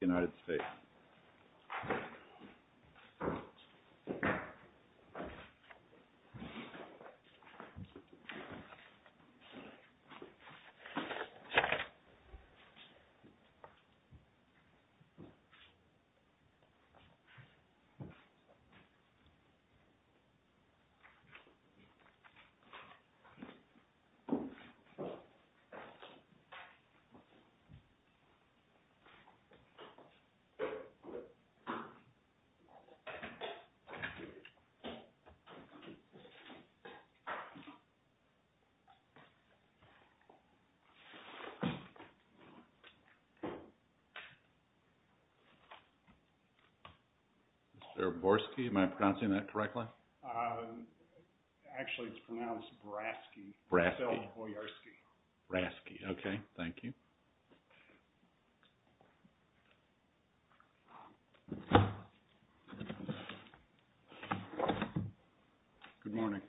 United States Mr. Borski, am I pronouncing that correctly? Actually, it's pronounced Braski. Braski. Braski. Okay, thank you. Good morning.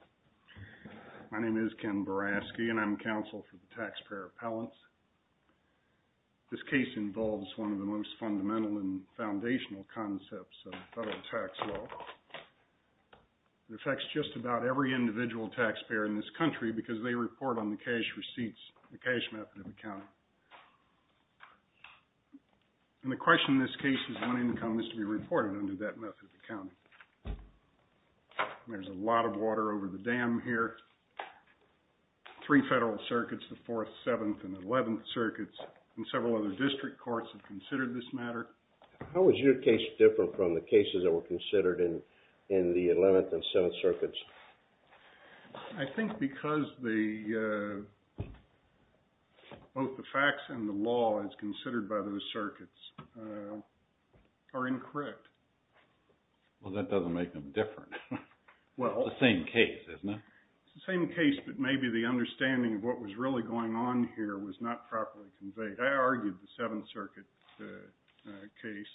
My name is Ken Braski and I'm counsel for the taxpayer appellants. This case involves one of the most fundamental and foundational concepts of federal tax law. It affects just about every individual taxpayer in this country because they report on the cash receipts, the cash method of accounting. And the question in this case is when income is to be reported under that method of accounting. There's a lot of water over the dam here. Three federal circuits, the 4th, 7th, and 11th circuits, and several other district courts have considered this matter. How is your case different from the cases that were considered in the 11th and 7th circuits? I think because both the facts and the law as considered by those circuits are incorrect. Well, that doesn't make them different. It's the same case, isn't it? It's the same case, but maybe the understanding of what was really going on here was not properly conveyed. I argued the 7th circuit case,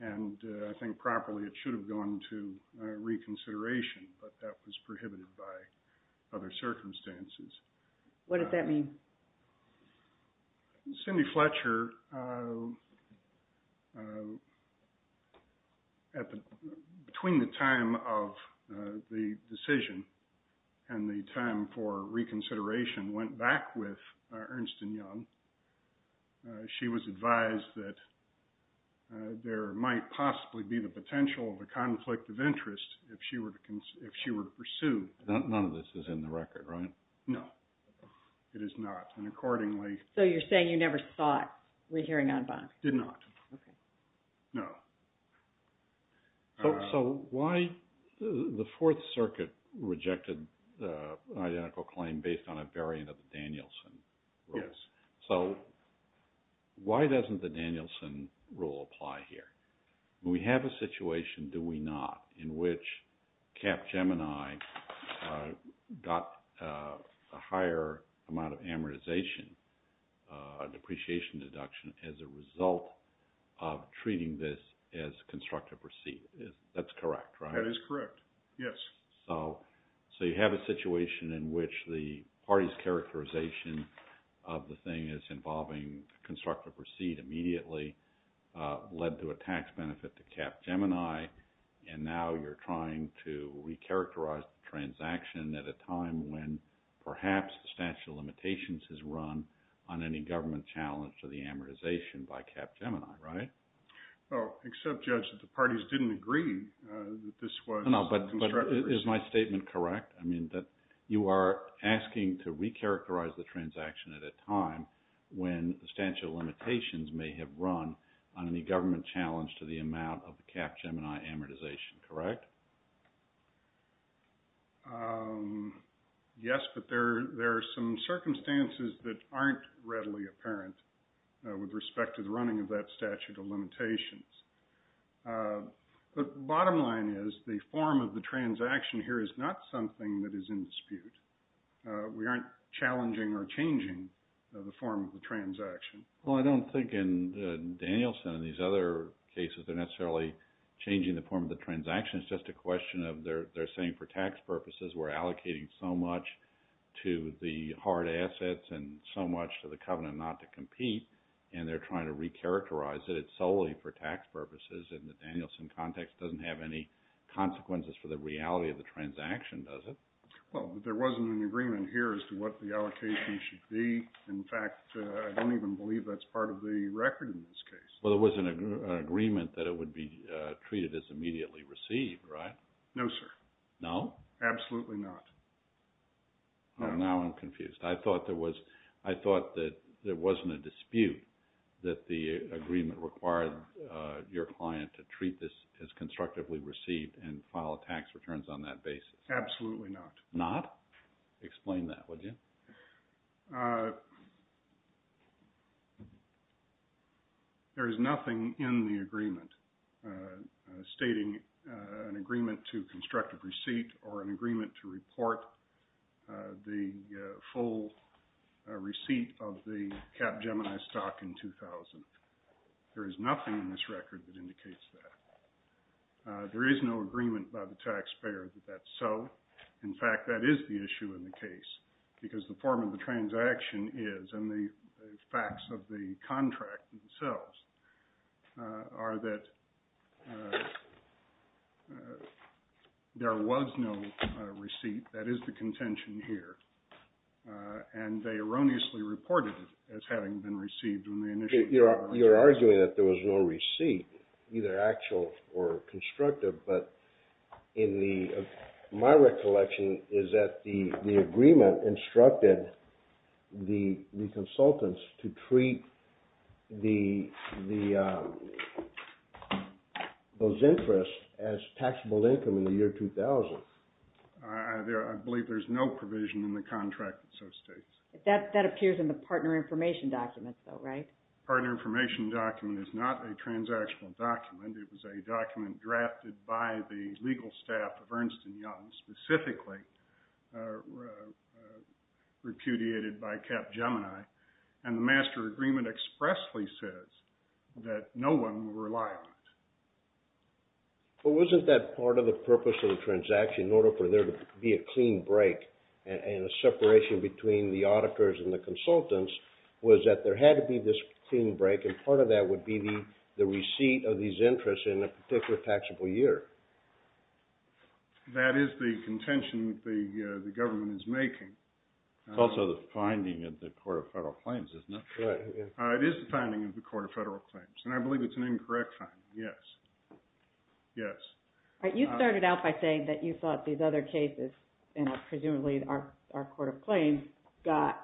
and I think properly it should have gone to reconsideration, but that was prohibited by other circumstances. What did that mean? Cindy Fletcher, between the time of the decision and the time for reconsideration, went back with Ernst & Young. She was advised that there might possibly be the potential of a conflict of interest if she were to pursue. None of this is in the record, right? No, it is not. So you're saying you never thought we're hearing on bond? Did not. Okay. No. So why – the 4th circuit rejected an identical claim based on a variant of the Danielson rules. Yes. So why doesn't the Danielson rule apply here? We have a situation, do we not, in which Capgemini got a higher amount of amortization, depreciation deduction, as a result of treating this as constructive receipt. That's correct, right? That is correct, yes. So you have a situation in which the party's characterization of the thing as involving constructive receipt immediately led to a tax benefit to Capgemini, and now you're trying to recharacterize the transaction at a time when perhaps the statute of limitations has run on any government challenge to the amortization by Capgemini, right? Well, except, Judge, that the parties didn't agree that this was constructive receipt. No, no, but is my statement correct? I mean that you are asking to recharacterize the transaction at a time when the statute of limitations may have run on any government challenge to the amount of Capgemini amortization, correct? Yes, but there are some circumstances that aren't readily apparent with respect to the running of that statute of limitations. The bottom line is the form of the transaction here is not something that is in dispute. We aren't challenging or changing the form of the transaction. Well, I don't think in Danielson and these other cases they're necessarily changing the form of the transaction. It's just a question of they're saying for tax purposes we're allocating so much to the hard assets and so much to the covenant not to compete, and they're trying to recharacterize it. I don't think that solely for tax purposes in the Danielson context doesn't have any consequences for the reality of the transaction, does it? Well, there wasn't an agreement here as to what the allocation should be. In fact, I don't even believe that's part of the record in this case. Well, there was an agreement that it would be treated as immediately received, right? No, sir. No? Absolutely not. Now I'm confused. I thought there wasn't a dispute that the agreement required your client to treat this as constructively received and file tax returns on that basis. Absolutely not. Explain that, would you? There is nothing in the agreement stating an agreement to constructive receipt or an agreement to report the full receipt of the capgemini stock in 2000. There is nothing in this record that indicates that. There is no agreement by the taxpayer that that's so. In fact, that is the issue in the case, because the form of the transaction is, and the facts of the contract themselves, are that there was no receipt. That is the contention here. And they erroneously reported it as having been received when they initially… You're arguing that there was no receipt, either actual or constructive, but my recollection is that the agreement instructed the consultants to treat those interests as taxable income in the year 2000. I believe there's no provision in the contract that so states. That appears in the partner information document, though, right? The partner information document is not a transactional document. It was a document drafted by the legal staff of Ernst & Young, specifically repudiated by Capgemini, and the master agreement expressly says that no one will rely on it. But wasn't that part of the purpose of the transaction, in order for there to be a clean break and a separation between the auditors and the consultants, was that there had to be this clean break, and part of that would be the receipt of these interests in a particular taxable year? That is the contention that the government is making. It's also the finding of the Court of Federal Claims, isn't it? It is the finding of the Court of Federal Claims, and I believe it's an incorrect finding, yes. You started out by saying that you thought these other cases, and presumably our Court of Claims, got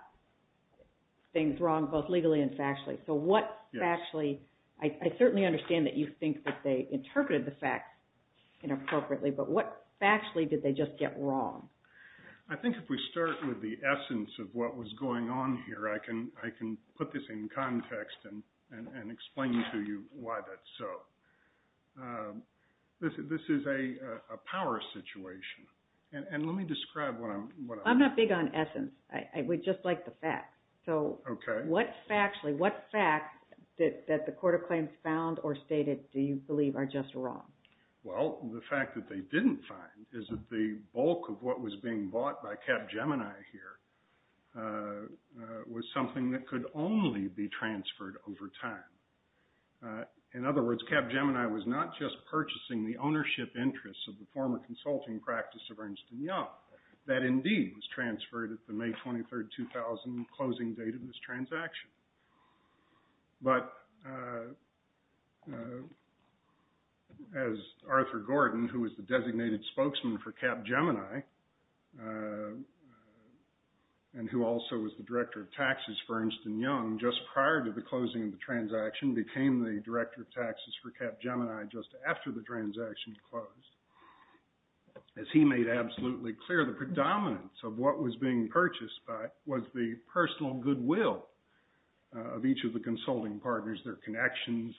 things wrong both legally and factually. So what factually… I certainly understand that you think that they interpreted the facts inappropriately, but what factually did they just get wrong? I think if we start with the essence of what was going on here, I can put this in context and explain to you why that's so. This is a power situation, and let me describe what I'm… I'm not big on essence. We just like the facts. Okay. So what factually, what facts that the Court of Claims found or stated do you believe are just wrong? Well, the fact that they didn't find is that the bulk of what was being bought by Capgemini here was something that could only be transferred over time. In other words, Capgemini was not just purchasing the ownership interests of the former consulting practice of Ernst & Young. That indeed was transferred at the May 23, 2000 closing date of this transaction. But as Arthur Gordon, who was the designated spokesman for Capgemini and who also was the director of taxes for Ernst & Young, just prior to the closing of the transaction became the director of taxes for Capgemini just after the transaction closed. As he made absolutely clear, the predominance of what was being purchased was the personal goodwill of each of the consulting partners, their connections,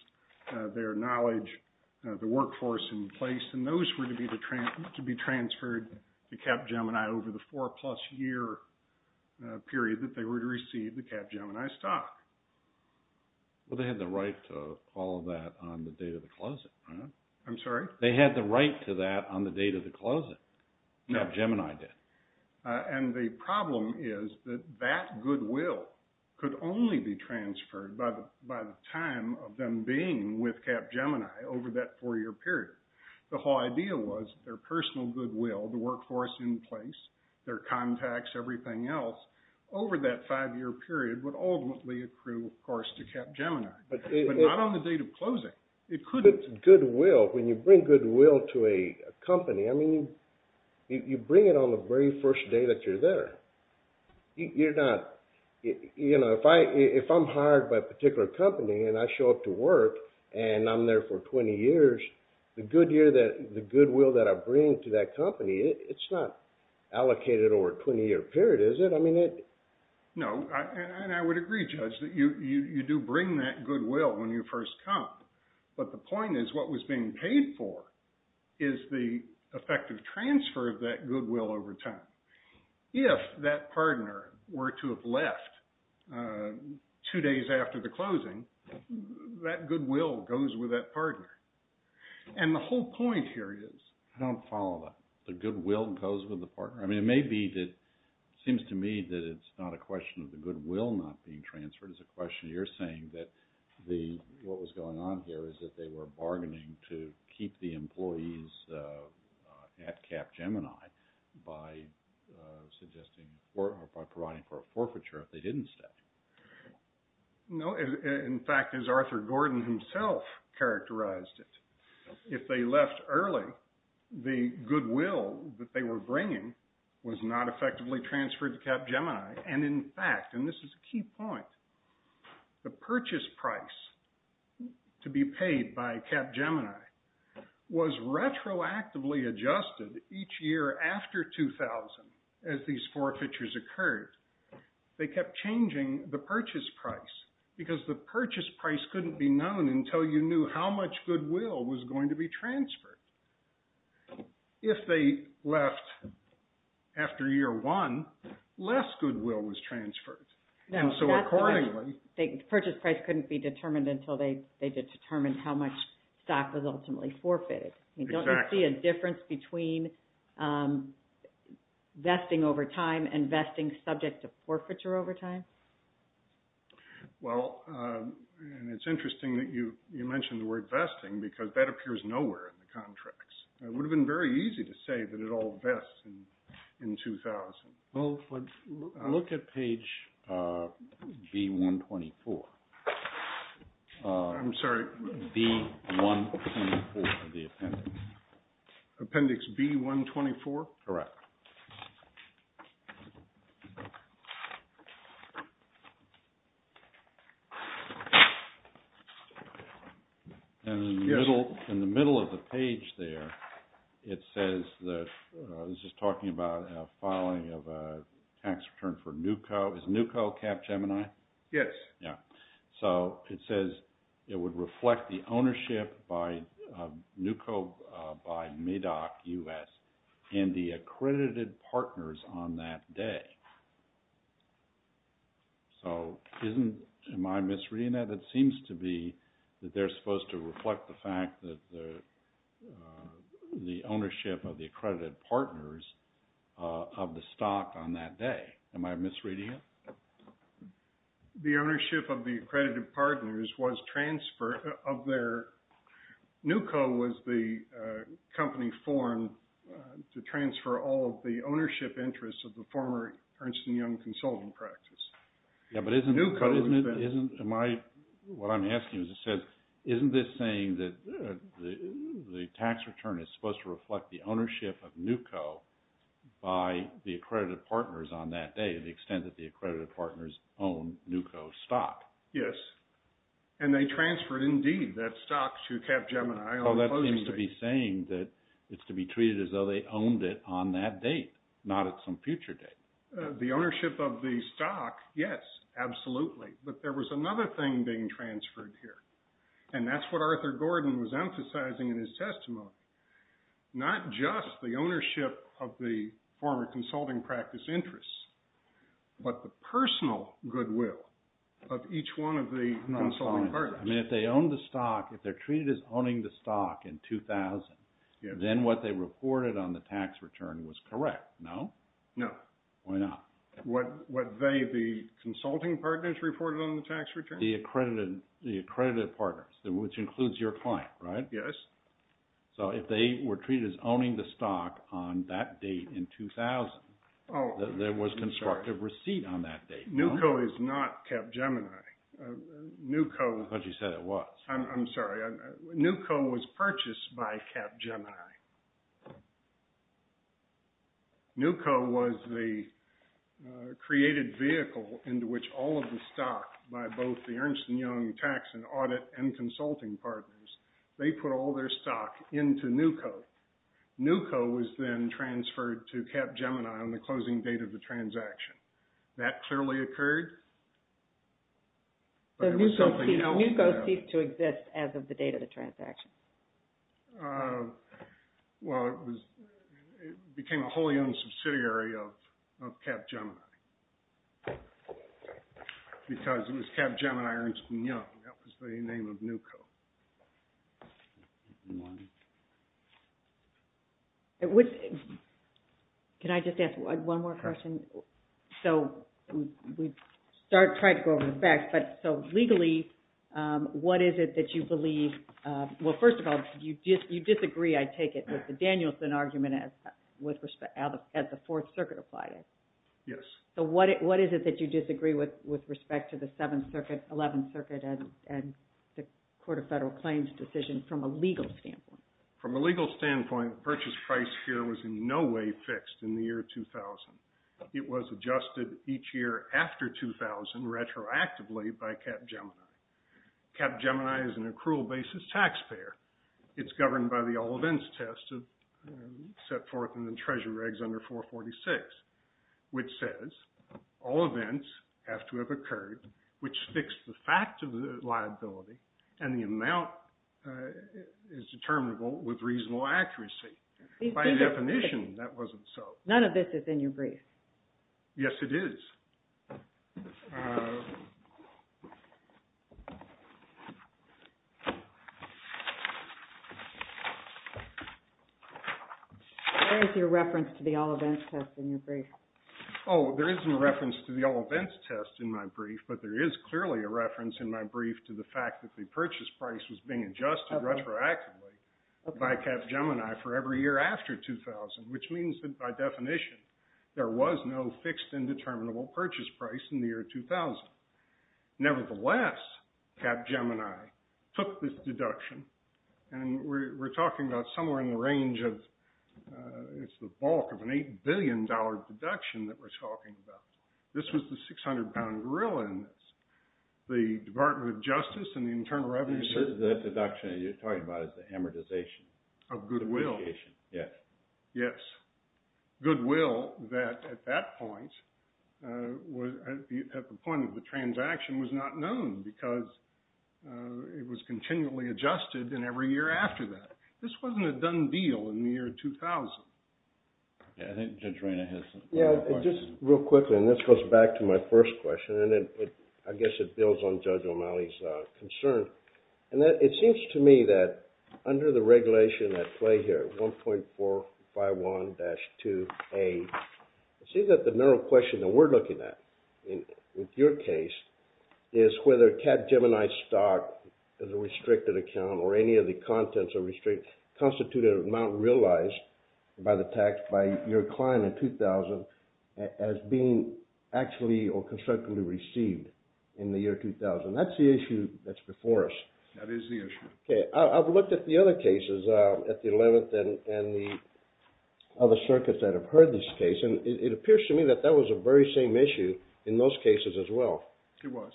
their knowledge, the workforce in place. And those were to be transferred to Capgemini over the four-plus-year period that they were to receive the Capgemini stock. Well, they had the right to all of that on the date of the closing, right? I'm sorry? They had the right to that on the date of the closing. Capgemini did. And the problem is that that goodwill could only be transferred by the time of them being with Capgemini over that four-year period. The whole idea was their personal goodwill, the workforce in place, their contacts, everything else, over that five-year period would ultimately accrue, of course, to Capgemini. But not on the date of closing. When you bring goodwill to a company, I mean, you bring it on the very first day that you're there. If I'm hired by a particular company and I show up to work and I'm there for 20 years, the goodwill that I bring to that company, it's not allocated over a 20-year period, is it? No, and I would agree, Judge, that you do bring that goodwill when you first come. But the point is what was being paid for is the effective transfer of that goodwill over time. If that partner were to have left two days after the closing, that goodwill goes with that partner. And the whole point here is… I don't follow that. The goodwill goes with the partner. I mean, it may be that it seems to me that it's not a question of the goodwill not being transferred. It's a question of you're saying that what was going on here is that they were bargaining to keep the employees at Capgemini by providing for a forfeiture if they didn't stay. No. In fact, as Arthur Gordon himself characterized it, if they left early, the goodwill that they were bringing was not effectively transferred to Capgemini. And in fact, and this is a key point, the purchase price to be paid by Capgemini was retroactively adjusted each year after 2000 as these forfeitures occurred. They kept changing the purchase price because the purchase price couldn't be known until you knew how much goodwill was going to be transferred. If they left after year one, less goodwill was transferred. And so accordingly… The purchase price couldn't be determined until they determined how much stock was ultimately forfeited. Exactly. Don't you see a difference between vesting over time and vesting subject to forfeiture over time? Well, and it's interesting that you mentioned the word vesting because that appears nowhere in the contracts. It would have been very easy to say that it all vests in 2000. Well, look at page B124. I'm sorry. B124 of the appendix. Appendix B124? Correct. Thank you. And in the middle of the page there, it says that… I was just talking about a filing of a tax return for NUCO. Is NUCO Capgemini? Yes. Yeah. So it says it would reflect the ownership by NUCO by MADOC-US and the accredited partners on that day. So am I misreading that? It seems to be that they're supposed to reflect the fact that the ownership of the accredited partners of the stock on that day. Am I misreading it? The ownership of the accredited partners was transferred of their… They transfer all of the ownership interests of the former Ernst & Young consultant practice. Yeah, but isn't… NUCO… What I'm asking is, isn't this saying that the tax return is supposed to reflect the ownership of NUCO by the accredited partners on that day, the extent that the accredited partners own NUCO stock? Yes. And they transferred, indeed, that stock to Capgemini. So that seems to be saying that it's to be treated as though they owned it on that date, not at some future date. The ownership of the stock, yes, absolutely. But there was another thing being transferred here. And that's what Arthur Gordon was emphasizing in his testimony. Not just the ownership of the former consulting practice interests, but the personal goodwill of each one of the consulting partners. I mean, if they own the stock, if they're treated as owning the stock in 2000, then what they reported on the tax return was correct, no? No. Why not? What they, the consulting partners, reported on the tax return? The accredited partners, which includes your client, right? Yes. So if they were treated as owning the stock on that date in 2000, there was constructive receipt on that date, no? NUCO is not Capgemini. I thought you said it was. I'm sorry. NUCO was purchased by Capgemini. NUCO was the created vehicle into which all of the stock by both the Ernst & Young tax and audit and consulting partners, they put all their stock into NUCO. NUCO was then transferred to Capgemini on the closing date of the transaction. That clearly occurred? NUCO ceased to exist as of the date of the transaction. Well, it became a wholly owned subsidiary of Capgemini because it was Capgemini, Ernst & Young. That was the name of NUCO. Can I just ask one more question? So we've tried to go over the facts, but so legally, what is it that you believe? Well, first of all, you disagree, I take it, with the Danielson argument as the Fourth Circuit applied it? Yes. So what is it that you disagree with with respect to the Seventh Circuit, Eleventh Circuit, and the Court of Federal Claims decision from a legal standpoint? From a legal standpoint, the purchase price here was in no way fixed in the year 2000. It was adjusted each year after 2000 retroactively by Capgemini. Capgemini is an accrual basis taxpayer. It's governed by the all events test set forth in the Treasury Regs under 446, which says all events have to have occurred, which fixed the fact of the liability, and the amount is determinable with reasonable accuracy. By definition, that wasn't so. None of this is in your brief. Yes, it is. Where is your reference to the all events test in your brief? Oh, there isn't a reference to the all events test in my brief, but there is clearly a reference in my brief to the fact that the purchase price was being adjusted retroactively by Capgemini for every year after 2000, which means that by definition, there was no fixed and determinable purchase price in the year 2000. Nevertheless, Capgemini took this deduction, and we're talking about somewhere in the range of, it's the bulk of an $8 billion deduction that we're talking about. This was the 600-pound gorilla in this. The Department of Justice and the Internal Revenue Service… The deduction that you're talking about is the amortization. Of goodwill. Yes. Goodwill that, at that point, at the point of the transaction, was not known because it was continually adjusted, and every year after that. This wasn't a done deal in the year 2000. Yeah, I think Judge Reina has a question. Yeah, just real quickly, and this goes back to my first question, and I guess it builds on Judge O'Malley's concern. It seems to me that under the regulation at play here, 1.451-2A, it seems that the narrow question that we're looking at with your case is whether Capgemini stock is a restricted account or any of the contents constitute an amount realized by the tax by your client in 2000 as being actually or constructively received in the year 2000. That's the issue that's before us. That is the issue. Okay, I've looked at the other cases, at the 11th and the other circuits that have heard this case, and it appears to me that that was a very same issue in those cases as well. It was.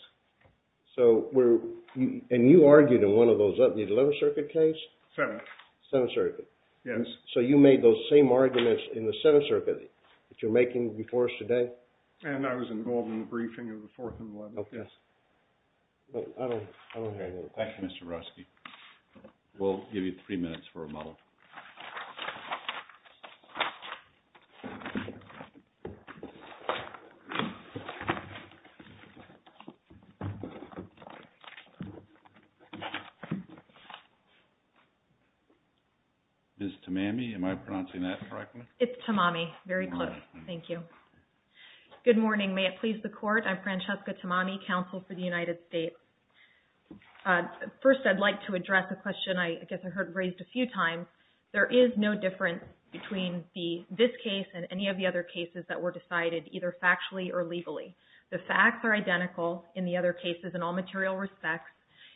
And you argued in one of those, the 11th Circuit case? 7th. 7th Circuit. Yes. So you made those same arguments in the 7th Circuit that you're making before us today? And I was involved in the briefing of the 4th and the 11th, yes. I don't hear you. Thank you, Mr. Ruski. We'll give you three minutes for a moment. Ms. Tamami, am I pronouncing that correctly? It's Tamami. Very close. Thank you. Good morning. May it please the Court. I'm Francesca Tamami, Counsel for the United States. First, I'd like to address a question I guess I heard raised a few times. There is no difference between this case and any of the other cases that were decided either factually or legally. The facts are identical in the other cases in all material respects,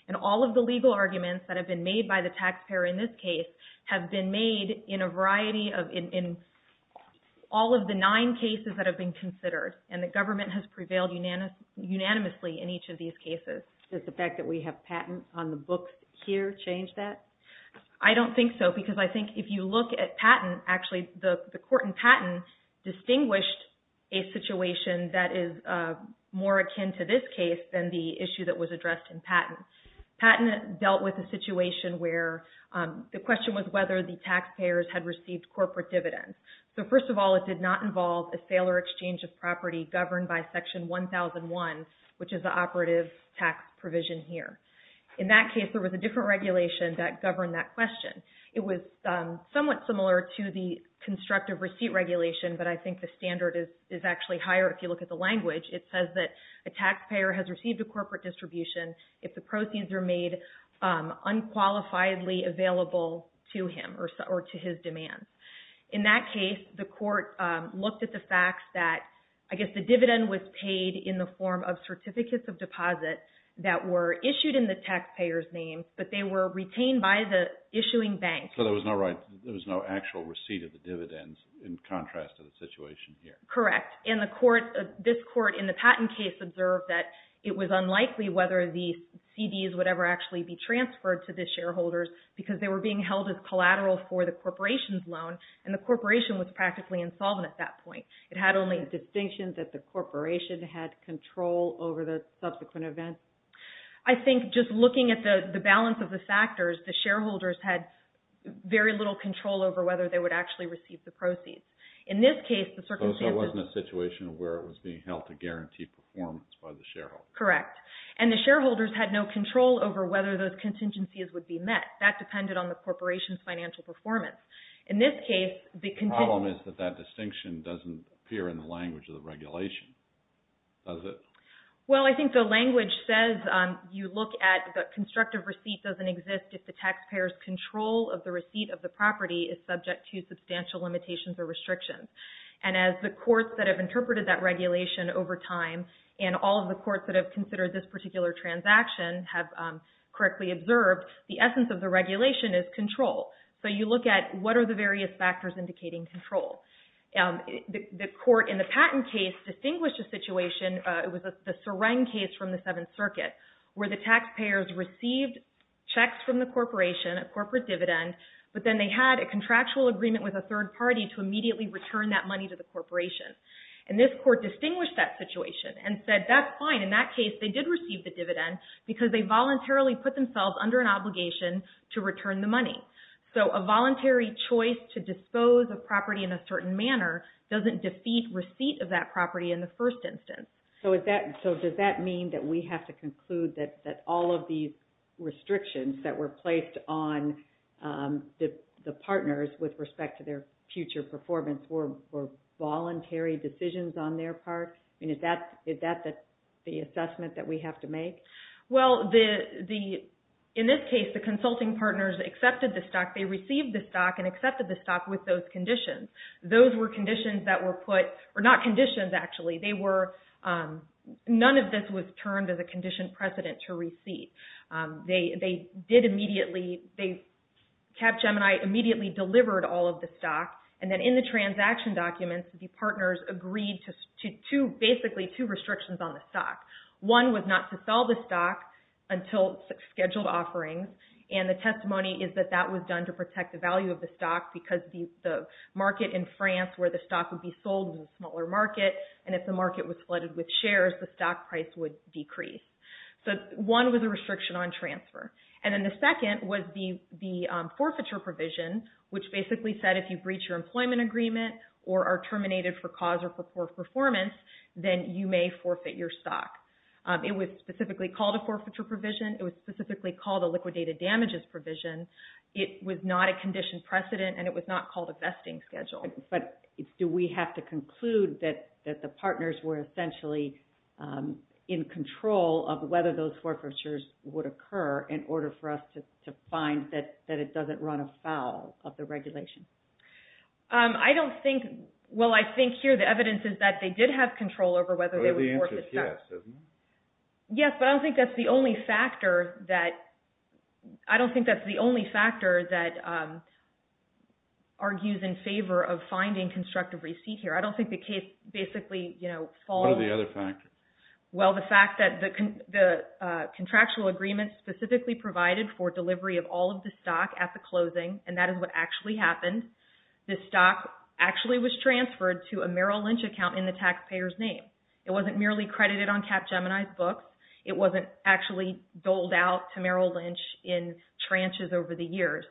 and all of the legal arguments that have been made by the taxpayer in this case have been made in a variety of – in all of the nine cases that have been considered. And the government has prevailed unanimously in each of these cases. Does the fact that we have patent on the books here change that? I don't think so, because I think if you look at patent – actually, the court in patent distinguished a situation that is more akin to this case than the issue that was addressed in patent. Patent dealt with a situation where the question was whether the taxpayers had received corporate dividends. So, first of all, it did not involve a sale or exchange of property governed by Section 1001, which is the operative tax provision here. In that case, there was a different regulation that governed that question. It was somewhat similar to the constructive receipt regulation, but I think the standard is actually higher if you look at the language. It says that a taxpayer has received a corporate distribution if the proceeds are made unqualifiedly available to him or to his demands. In that case, the court looked at the fact that, I guess, the dividend was paid in the form of certificates of deposit that were issued in the taxpayer's name, but they were retained by the issuing bank. So there was no actual receipt of the dividends in contrast to the situation here? Correct. This court in the patent case observed that it was unlikely whether the CDs would ever actually be transferred to the shareholders because they were being held as collateral for the corporation's loan, and the corporation was practically insolvent at that point. It had only – A distinction that the corporation had control over the subsequent events? I think just looking at the balance of the factors, the shareholders had very little control over whether they would actually receive the proceeds. In this case, the circumstances – So it wasn't a situation where it was being held to guarantee performance by the shareholders? Correct. And the shareholders had no control over whether those contingencies would be met. That depended on the corporation's financial performance. In this case, the – The problem is that that distinction doesn't appear in the language of the regulation, does it? Well, I think the language says you look at the constructive receipt doesn't exist if the taxpayer's control of the receipt of the property is subject to substantial limitations or restrictions. And as the courts that have interpreted that regulation over time and all of the courts that have considered this particular transaction have correctly observed, the essence of the regulation is control. So you look at what are the various factors indicating control. The court in the patent case distinguished a situation – It was the Seren case from the Seventh Circuit where the taxpayers received checks from the corporation, a corporate dividend, but then they had a contractual agreement with a third party to immediately return that money to the corporation. And this court distinguished that situation and said that's fine. In that case, they did receive the dividend because they voluntarily put themselves under an obligation to return the money. So a voluntary choice to dispose of property in a certain manner doesn't defeat receipt of that property in the first instance. So does that mean that we have to conclude that all of these restrictions that were placed on the partners with respect to their future performance were voluntary decisions on their part? I mean, is that the assessment that we have to make? Well, in this case, the consulting partners accepted the stock. They received the stock and accepted the stock with those conditions. Those were conditions that were put – or not conditions, actually. They were – none of this was termed as a condition precedent to receipt. They did immediately – Capgemini immediately delivered all of the stock. And then in the transaction documents, the partners agreed to basically two restrictions on the stock. One was not to sell the stock until scheduled offerings. And the testimony is that that was done to protect the value of the stock because the market in France where the stock would be sold in a smaller market, and if the market was flooded with shares, the stock price would decrease. So one was a restriction on transfer. And then the second was the forfeiture provision, which basically said if you breach your employment agreement or are terminated for cause of poor performance, then you may forfeit your stock. It was specifically called a forfeiture provision. It was specifically called a liquidated damages provision. It was not a condition precedent, and it was not called a vesting schedule. But do we have to conclude that the partners were essentially in control of whether those forfeitures would occur in order for us to find that it doesn't run afoul of the regulation? I don't think – well, I think here the evidence is that they did have control over whether they would force itself. But the answer is yes, isn't it? Yes, but I don't think that's the only factor that argues in favor of finding constructive receipt here. I don't think the case basically follows – What are the other factors? Well, the fact that the contractual agreement specifically provided for delivery of all of the stock at the closing, and that is what actually happened. The stock actually was transferred to a Merrill Lynch account in the taxpayer's name. It wasn't merely credited on Capgemini's books. It wasn't actually doled out to Merrill Lynch in tranches over the years.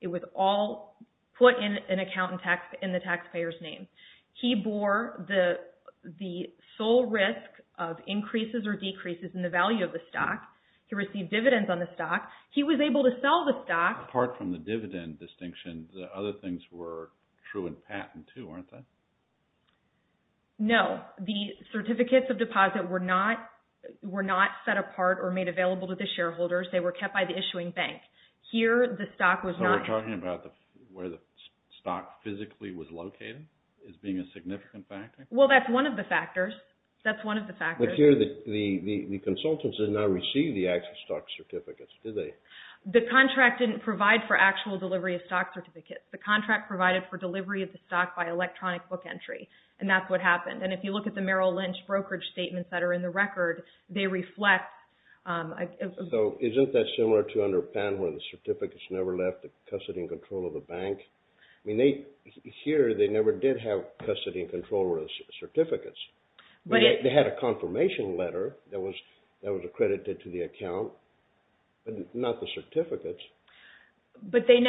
It was all put in an account in the taxpayer's name. He bore the sole risk of increases or decreases in the value of the stock. He received dividends on the stock. He was able to sell the stock. Apart from the dividend distinction, the other things were true in patent too, weren't they? No. The certificates of deposit were not set apart or made available to the shareholders. They were kept by the issuing bank. Here the stock was not – So we're talking about where the stock physically was located as being a significant factor? Well, that's one of the factors. That's one of the factors. But here the consultants did not receive the actual stock certificates, did they? The contract didn't provide for actual delivery of stock certificates. The contract provided for delivery of the stock by electronic book entry, and that's what happened. And if you look at the Merrill Lynch brokerage statements that are in the record, they reflect – So isn't that similar to under Penn where the certificates never left the custody and control of the bank? Here they never did have custody and control over the certificates. They had a confirmation letter that was accredited to the account, but not the certificates. But they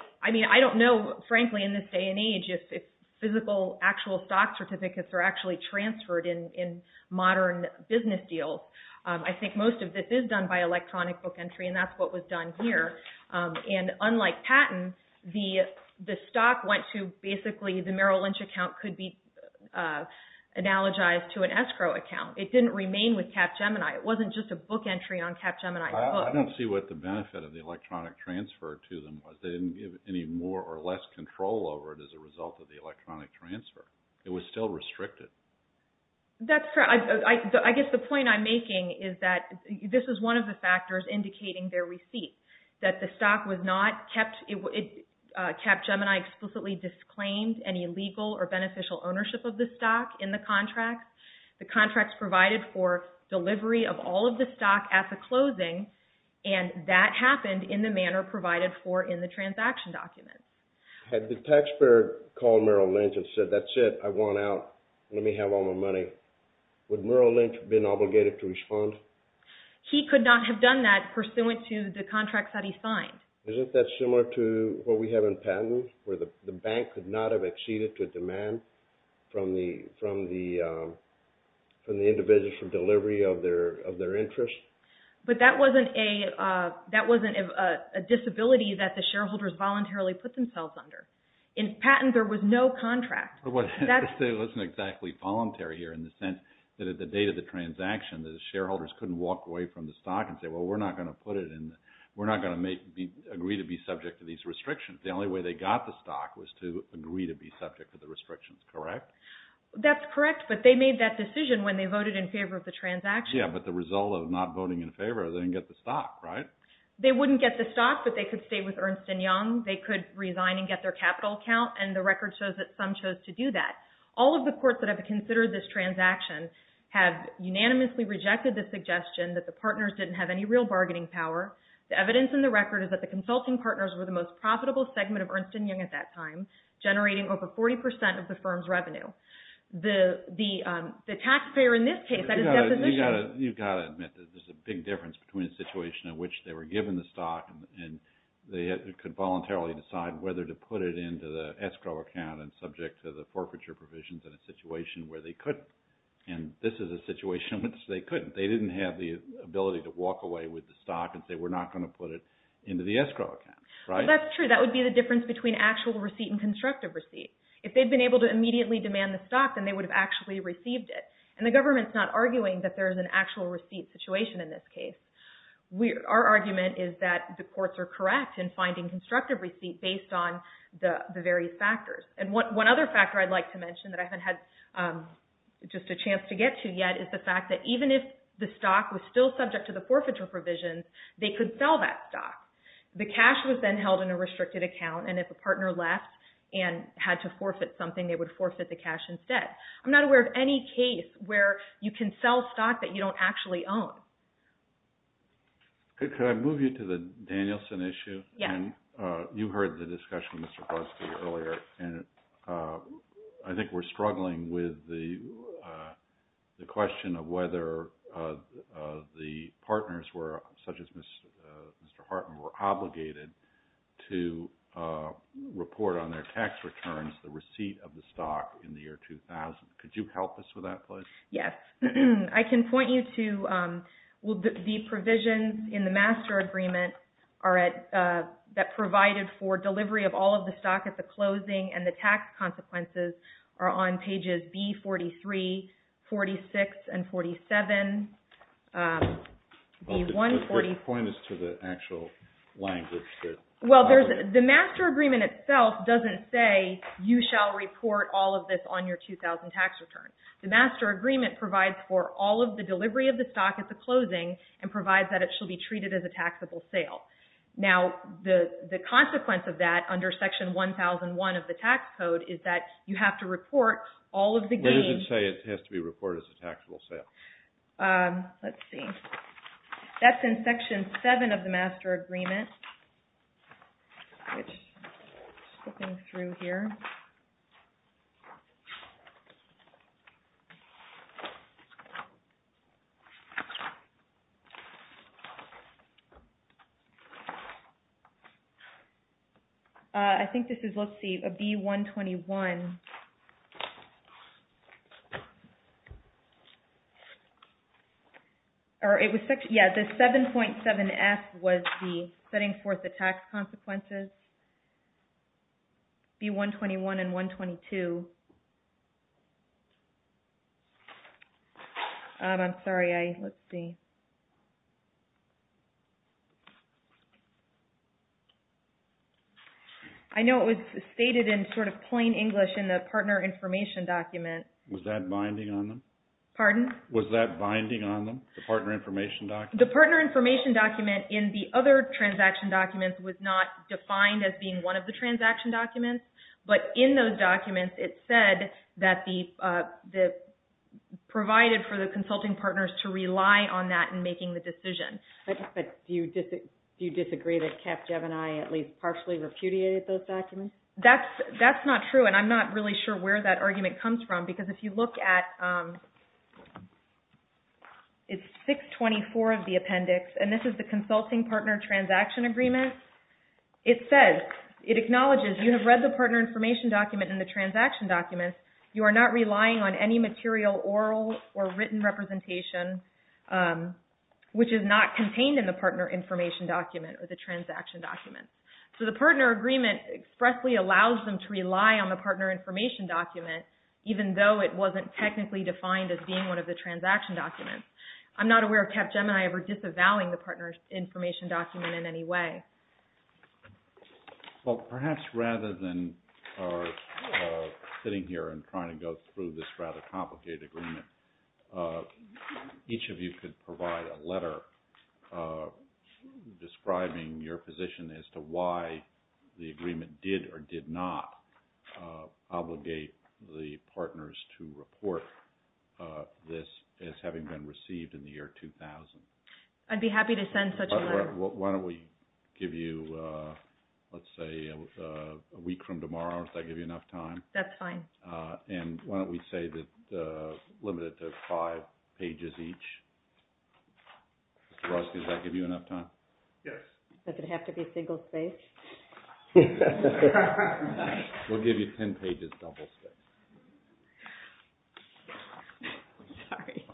– I mean, I don't know, frankly, in this day and age, if physical actual stock certificates are actually transferred in modern business deals. I think most of this is done by electronic book entry, and that's what was done here. And unlike patent, the stock went to basically – the Merrill Lynch account could be analogized to an escrow account. It didn't remain with Capgemini. It wasn't just a book entry on Capgemini. I don't see what the benefit of the electronic transfer to them was. They didn't give any more or less control over it as a result of the electronic transfer. It was still restricted. That's correct. I guess the point I'm making is that this is one of the factors indicating their receipt, that the stock was not kept – Capgemini explicitly disclaimed any legal or beneficial ownership of the stock in the contract. The contract provided for delivery of all of the stock at the closing, and that happened in the manner provided for in the transaction document. Had the taxpayer called Merrill Lynch and said, that's it, I want out, let me have all my money, would Merrill Lynch have been obligated to respond? He could not have done that pursuant to the contract that he signed. Isn't that similar to what we have in patent, where the bank could not have exceeded to demand from the individual for delivery of their interest? But that wasn't a disability that the shareholders voluntarily put themselves under. In patent, there was no contract. It wasn't exactly voluntary here in the sense that at the date of the transaction, the shareholders couldn't walk away from the stock and say, well, we're not going to put it in – we're not going to agree to be subject to these restrictions. The only way they got the stock was to agree to be subject to the restrictions, correct? That's correct, but they made that decision when they voted in favor of the transaction. Yeah, but the result of not voting in favor is they didn't get the stock, right? They wouldn't get the stock, but they could stay with Ernst & Young. They could resign and get their capital account, and the record shows that some chose to do that. All of the courts that have considered this transaction have unanimously rejected the suggestion that the partners didn't have any real bargaining power. The evidence in the record is that the consulting partners were the most profitable segment of Ernst & Young at that time, generating over 40% of the firm's revenue. The taxpayer in this case – You've got to admit that there's a big difference between a situation in which they were given the stock and they could voluntarily decide whether to put it into the escrow account and subject to the forfeiture provisions in a situation where they couldn't. And this is a situation in which they couldn't. They didn't have the ability to walk away with the stock and say, we're not going to put it into the escrow account, right? That's true. That would be the difference between actual receipt and constructive receipt. If they'd been able to immediately demand the stock, then they would have actually received it. And the government's not arguing that there's an actual receipt situation in this case. Our argument is that the courts are correct in finding constructive receipt based on the various factors. And one other factor I'd like to mention that I haven't had just a chance to get to yet is the fact that even if the stock was still subject to the forfeiture provisions, they could sell that stock. The cash was then held in a restricted account, and if a partner left and had to forfeit something, they would forfeit the cash instead. I'm not aware of any case where you can sell stock that you don't actually own. Could I move you to the Danielson issue? Yes. Diane, you heard the discussion with Mr. Busbee earlier, and I think we're struggling with the question of whether the partners, such as Mr. Hartman, were obligated to report on their tax returns the receipt of the stock in the year 2000. Could you help us with that, please? Yes. I can point you to the provisions in the master agreement that provided for delivery of all of the stock at the closing and the tax consequences are on pages B43, 46, and 47. The point is to the actual language. Well, the master agreement itself doesn't say you shall report all of this on your 2000 tax return. The master agreement provides for all of the delivery of the stock at the closing and provides that it shall be treated as a taxable sale. Now, the consequence of that under section 1001 of the tax code is that you have to report all of the gains. Where does it say it has to be reported as a taxable sale? Let's see. That's in section 7 of the master agreement. I'm just flipping through here. I think this is, let's see, B121. Yeah, the 7.7F was the setting forth the tax consequences, B121 and 122. I'm sorry. Let's see. I know it was stated in sort of plain English in the partner information document. Was that binding on them? Pardon? Was that binding on them, the partner information document? The partner information document in the other transaction documents was not defined as being one of the transaction documents, but in those documents it said that the, provided for the consulting partners to rely on that in making the decision. But do you disagree that Capgevini at least partially repudiated those documents? That's not true, and I'm not really sure where that argument comes from, because if you look at, it's 624 of the appendix, and this is the consulting partner transaction agreement. It says, it acknowledges, you have read the partner information document in the transaction documents. You are not relying on any material oral or written representation, which is not contained in the partner information document or the transaction document. So the partner agreement expressly allows them to rely on the partner information document, even though it wasn't technically defined as being one of the transaction documents. I'm not aware of Capgemini ever disavowing the partner information document in any way. Well, perhaps rather than our sitting here and trying to go through this rather complicated agreement, each of you could provide a letter describing your position as to why the agreement did or did not obligate the partners to report this as having been received in the year 2000. I'd be happy to send such a letter. Laura, why don't we give you, let's say, a week from tomorrow. Does that give you enough time? That's fine. And why don't we say that, limit it to five pages each. Mr. Roski, does that give you enough time? Yes. Does it have to be single-spaced? We'll give you ten pages double-spaced. Sorry.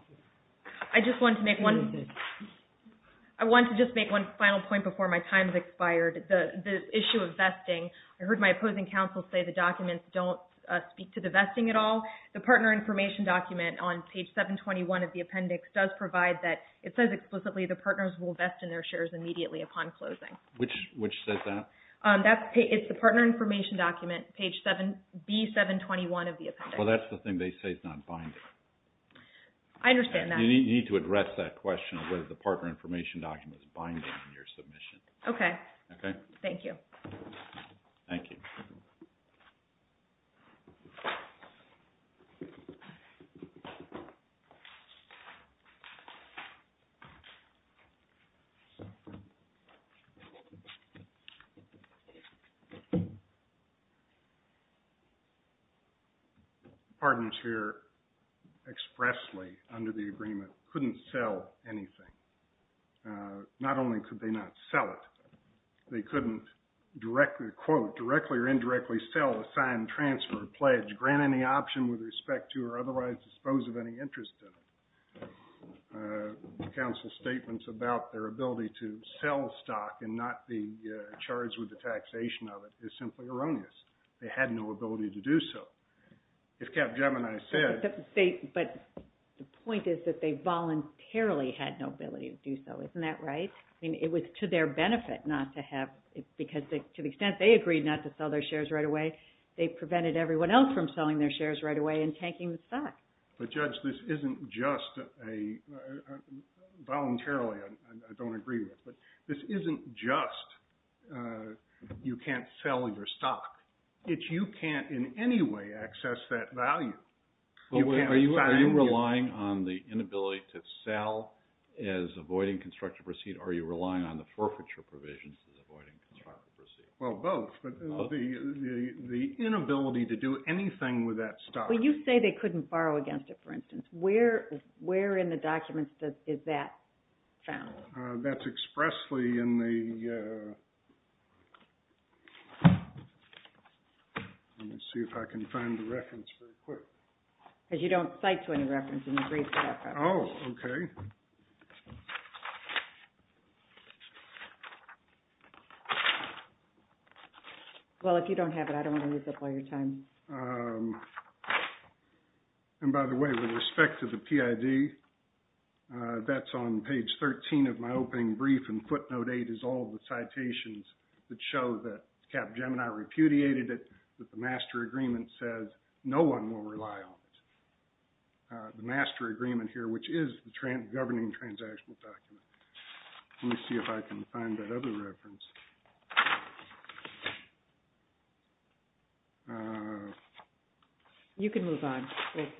I just want to make one final point before my time has expired. The issue of vesting, I heard my opposing counsel say the documents don't speak to the vesting at all. The partner information document on page 721 of the appendix does provide that. It says explicitly the partners will vest in their shares immediately upon closing. Which says that? It's the partner information document, page B721 of the appendix. Well, that's the thing they say is not binding. I understand that. You need to address that question of whether the partner information document is binding on your submission. Okay. Okay? Thank you. Thank you. Thank you. Pardon, Chair. Expressly, under the agreement, couldn't sell anything. Not only could they not sell it. They couldn't, quote, directly or indirectly sell, assign, transfer, pledge, grant any option with respect to, or otherwise dispose of any interest in it. Counsel's statements about their ability to sell stock and not be charged with the taxation of it is simply erroneous. They had no ability to do so. If Capgemini said. But the point is that they voluntarily had no ability to do so. Isn't that right? I mean, it was to their benefit not to have, because to the extent they agreed not to sell their shares right away, they prevented everyone else from selling their shares right away and tanking the stock. But Judge, this isn't just a, voluntarily, I don't agree with. But this isn't just you can't sell your stock. It's you can't in any way access that value. Are you relying on the inability to sell as avoiding constructive receipt? Or are you relying on the forfeiture provisions as avoiding constructive receipt? Well, both. But the inability to do anything with that stock. But you say they couldn't borrow against it, for instance. Where in the documents is that found? That's expressly in the. Let me see if I can find the reference very quick. Because you don't cite to any reference in your brief. Oh, okay. Well, if you don't have it, I don't want to use up all your time. And by the way, with respect to the PID, that's on page 13 of my opening brief. And footnote eight is all the citations that show that Capgemini repudiated it, that the master agreement says no one will rely on it. The master agreement here, which is the governing transactional document. Let me see if I can find that other reference. You can move on.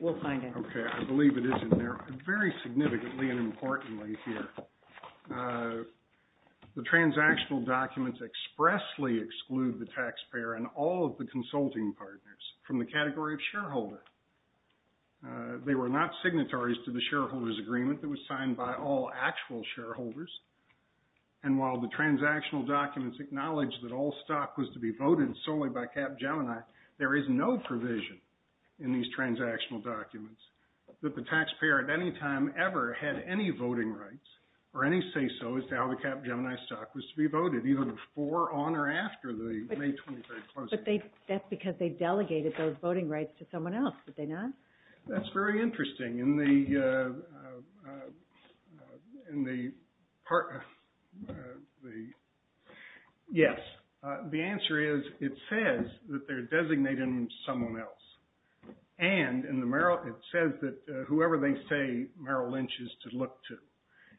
We'll find it. Okay. I believe it is in there. Very significantly and importantly here, the transactional documents expressly exclude the taxpayer and all of the consulting partners from the category of shareholder. They were not signatories to the shareholder's agreement that was signed by all actual shareholders. And while the transactional documents acknowledge that all stock was to be voted solely by Capgemini, there is no provision in these transactional documents that the taxpayer at any time ever had any voting rights or any say-so as to how the Capgemini stock was to be voted, even before, on, or after the May 23 closing. But that's because they delegated those voting rights to someone else, did they not? That's very interesting. In the, yes. The answer is it says that they're designating someone else. And it says that whoever they say Merrill Lynch is to look to.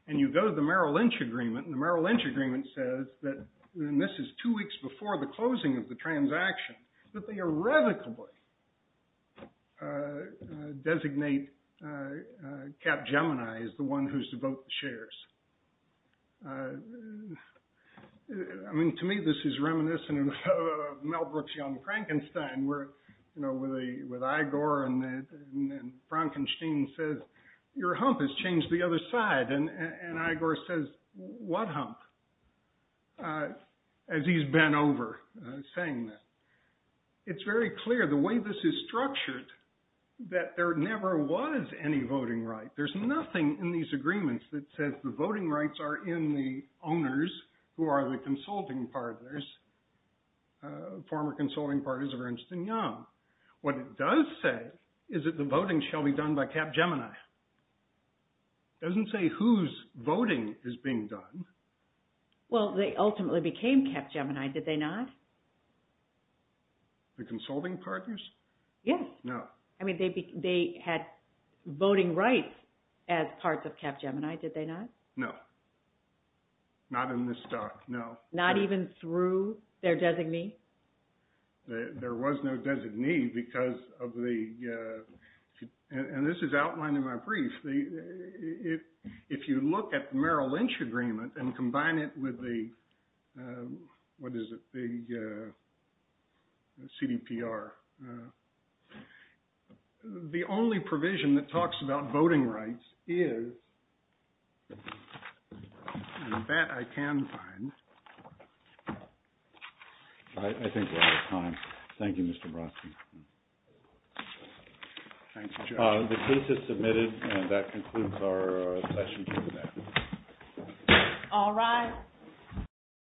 And you go to the Merrill Lynch agreement, and the Merrill Lynch agreement says that, and this is two weeks before the closing of the transaction, that they irrevocably designate Capgemini as the one who's to vote the shares. I mean, to me, this is reminiscent of Mel Brooks' Young Frankenstein, where, you know, with Igor and Frankenstein says, your hump has changed the other side. And Igor says, what hump? As he's bent over saying this. It's very clear the way this is structured that there never was any voting right. There's nothing in these agreements that says the voting rights are in the owners who are the consulting partners, former consulting partners of Ernst & Young. What it does say is that the voting shall be done by Capgemini. It doesn't say whose voting is being done. Well, they ultimately became Capgemini, did they not? The consulting partners? Yes. No. I mean, they had voting rights as parts of Capgemini, did they not? No. Not in this doc, no. Not even through their designee? There was no designee because of the – and this is outlined in my brief. If you look at Merrill Lynch Agreement and combine it with the – what is it? The CDPR. The only provision that talks about voting rights is – and that I can find. I think we're out of time. Thank you, Mr. Brodsky. Thanks, Jeff. The case is submitted and that concludes our session today. All rise.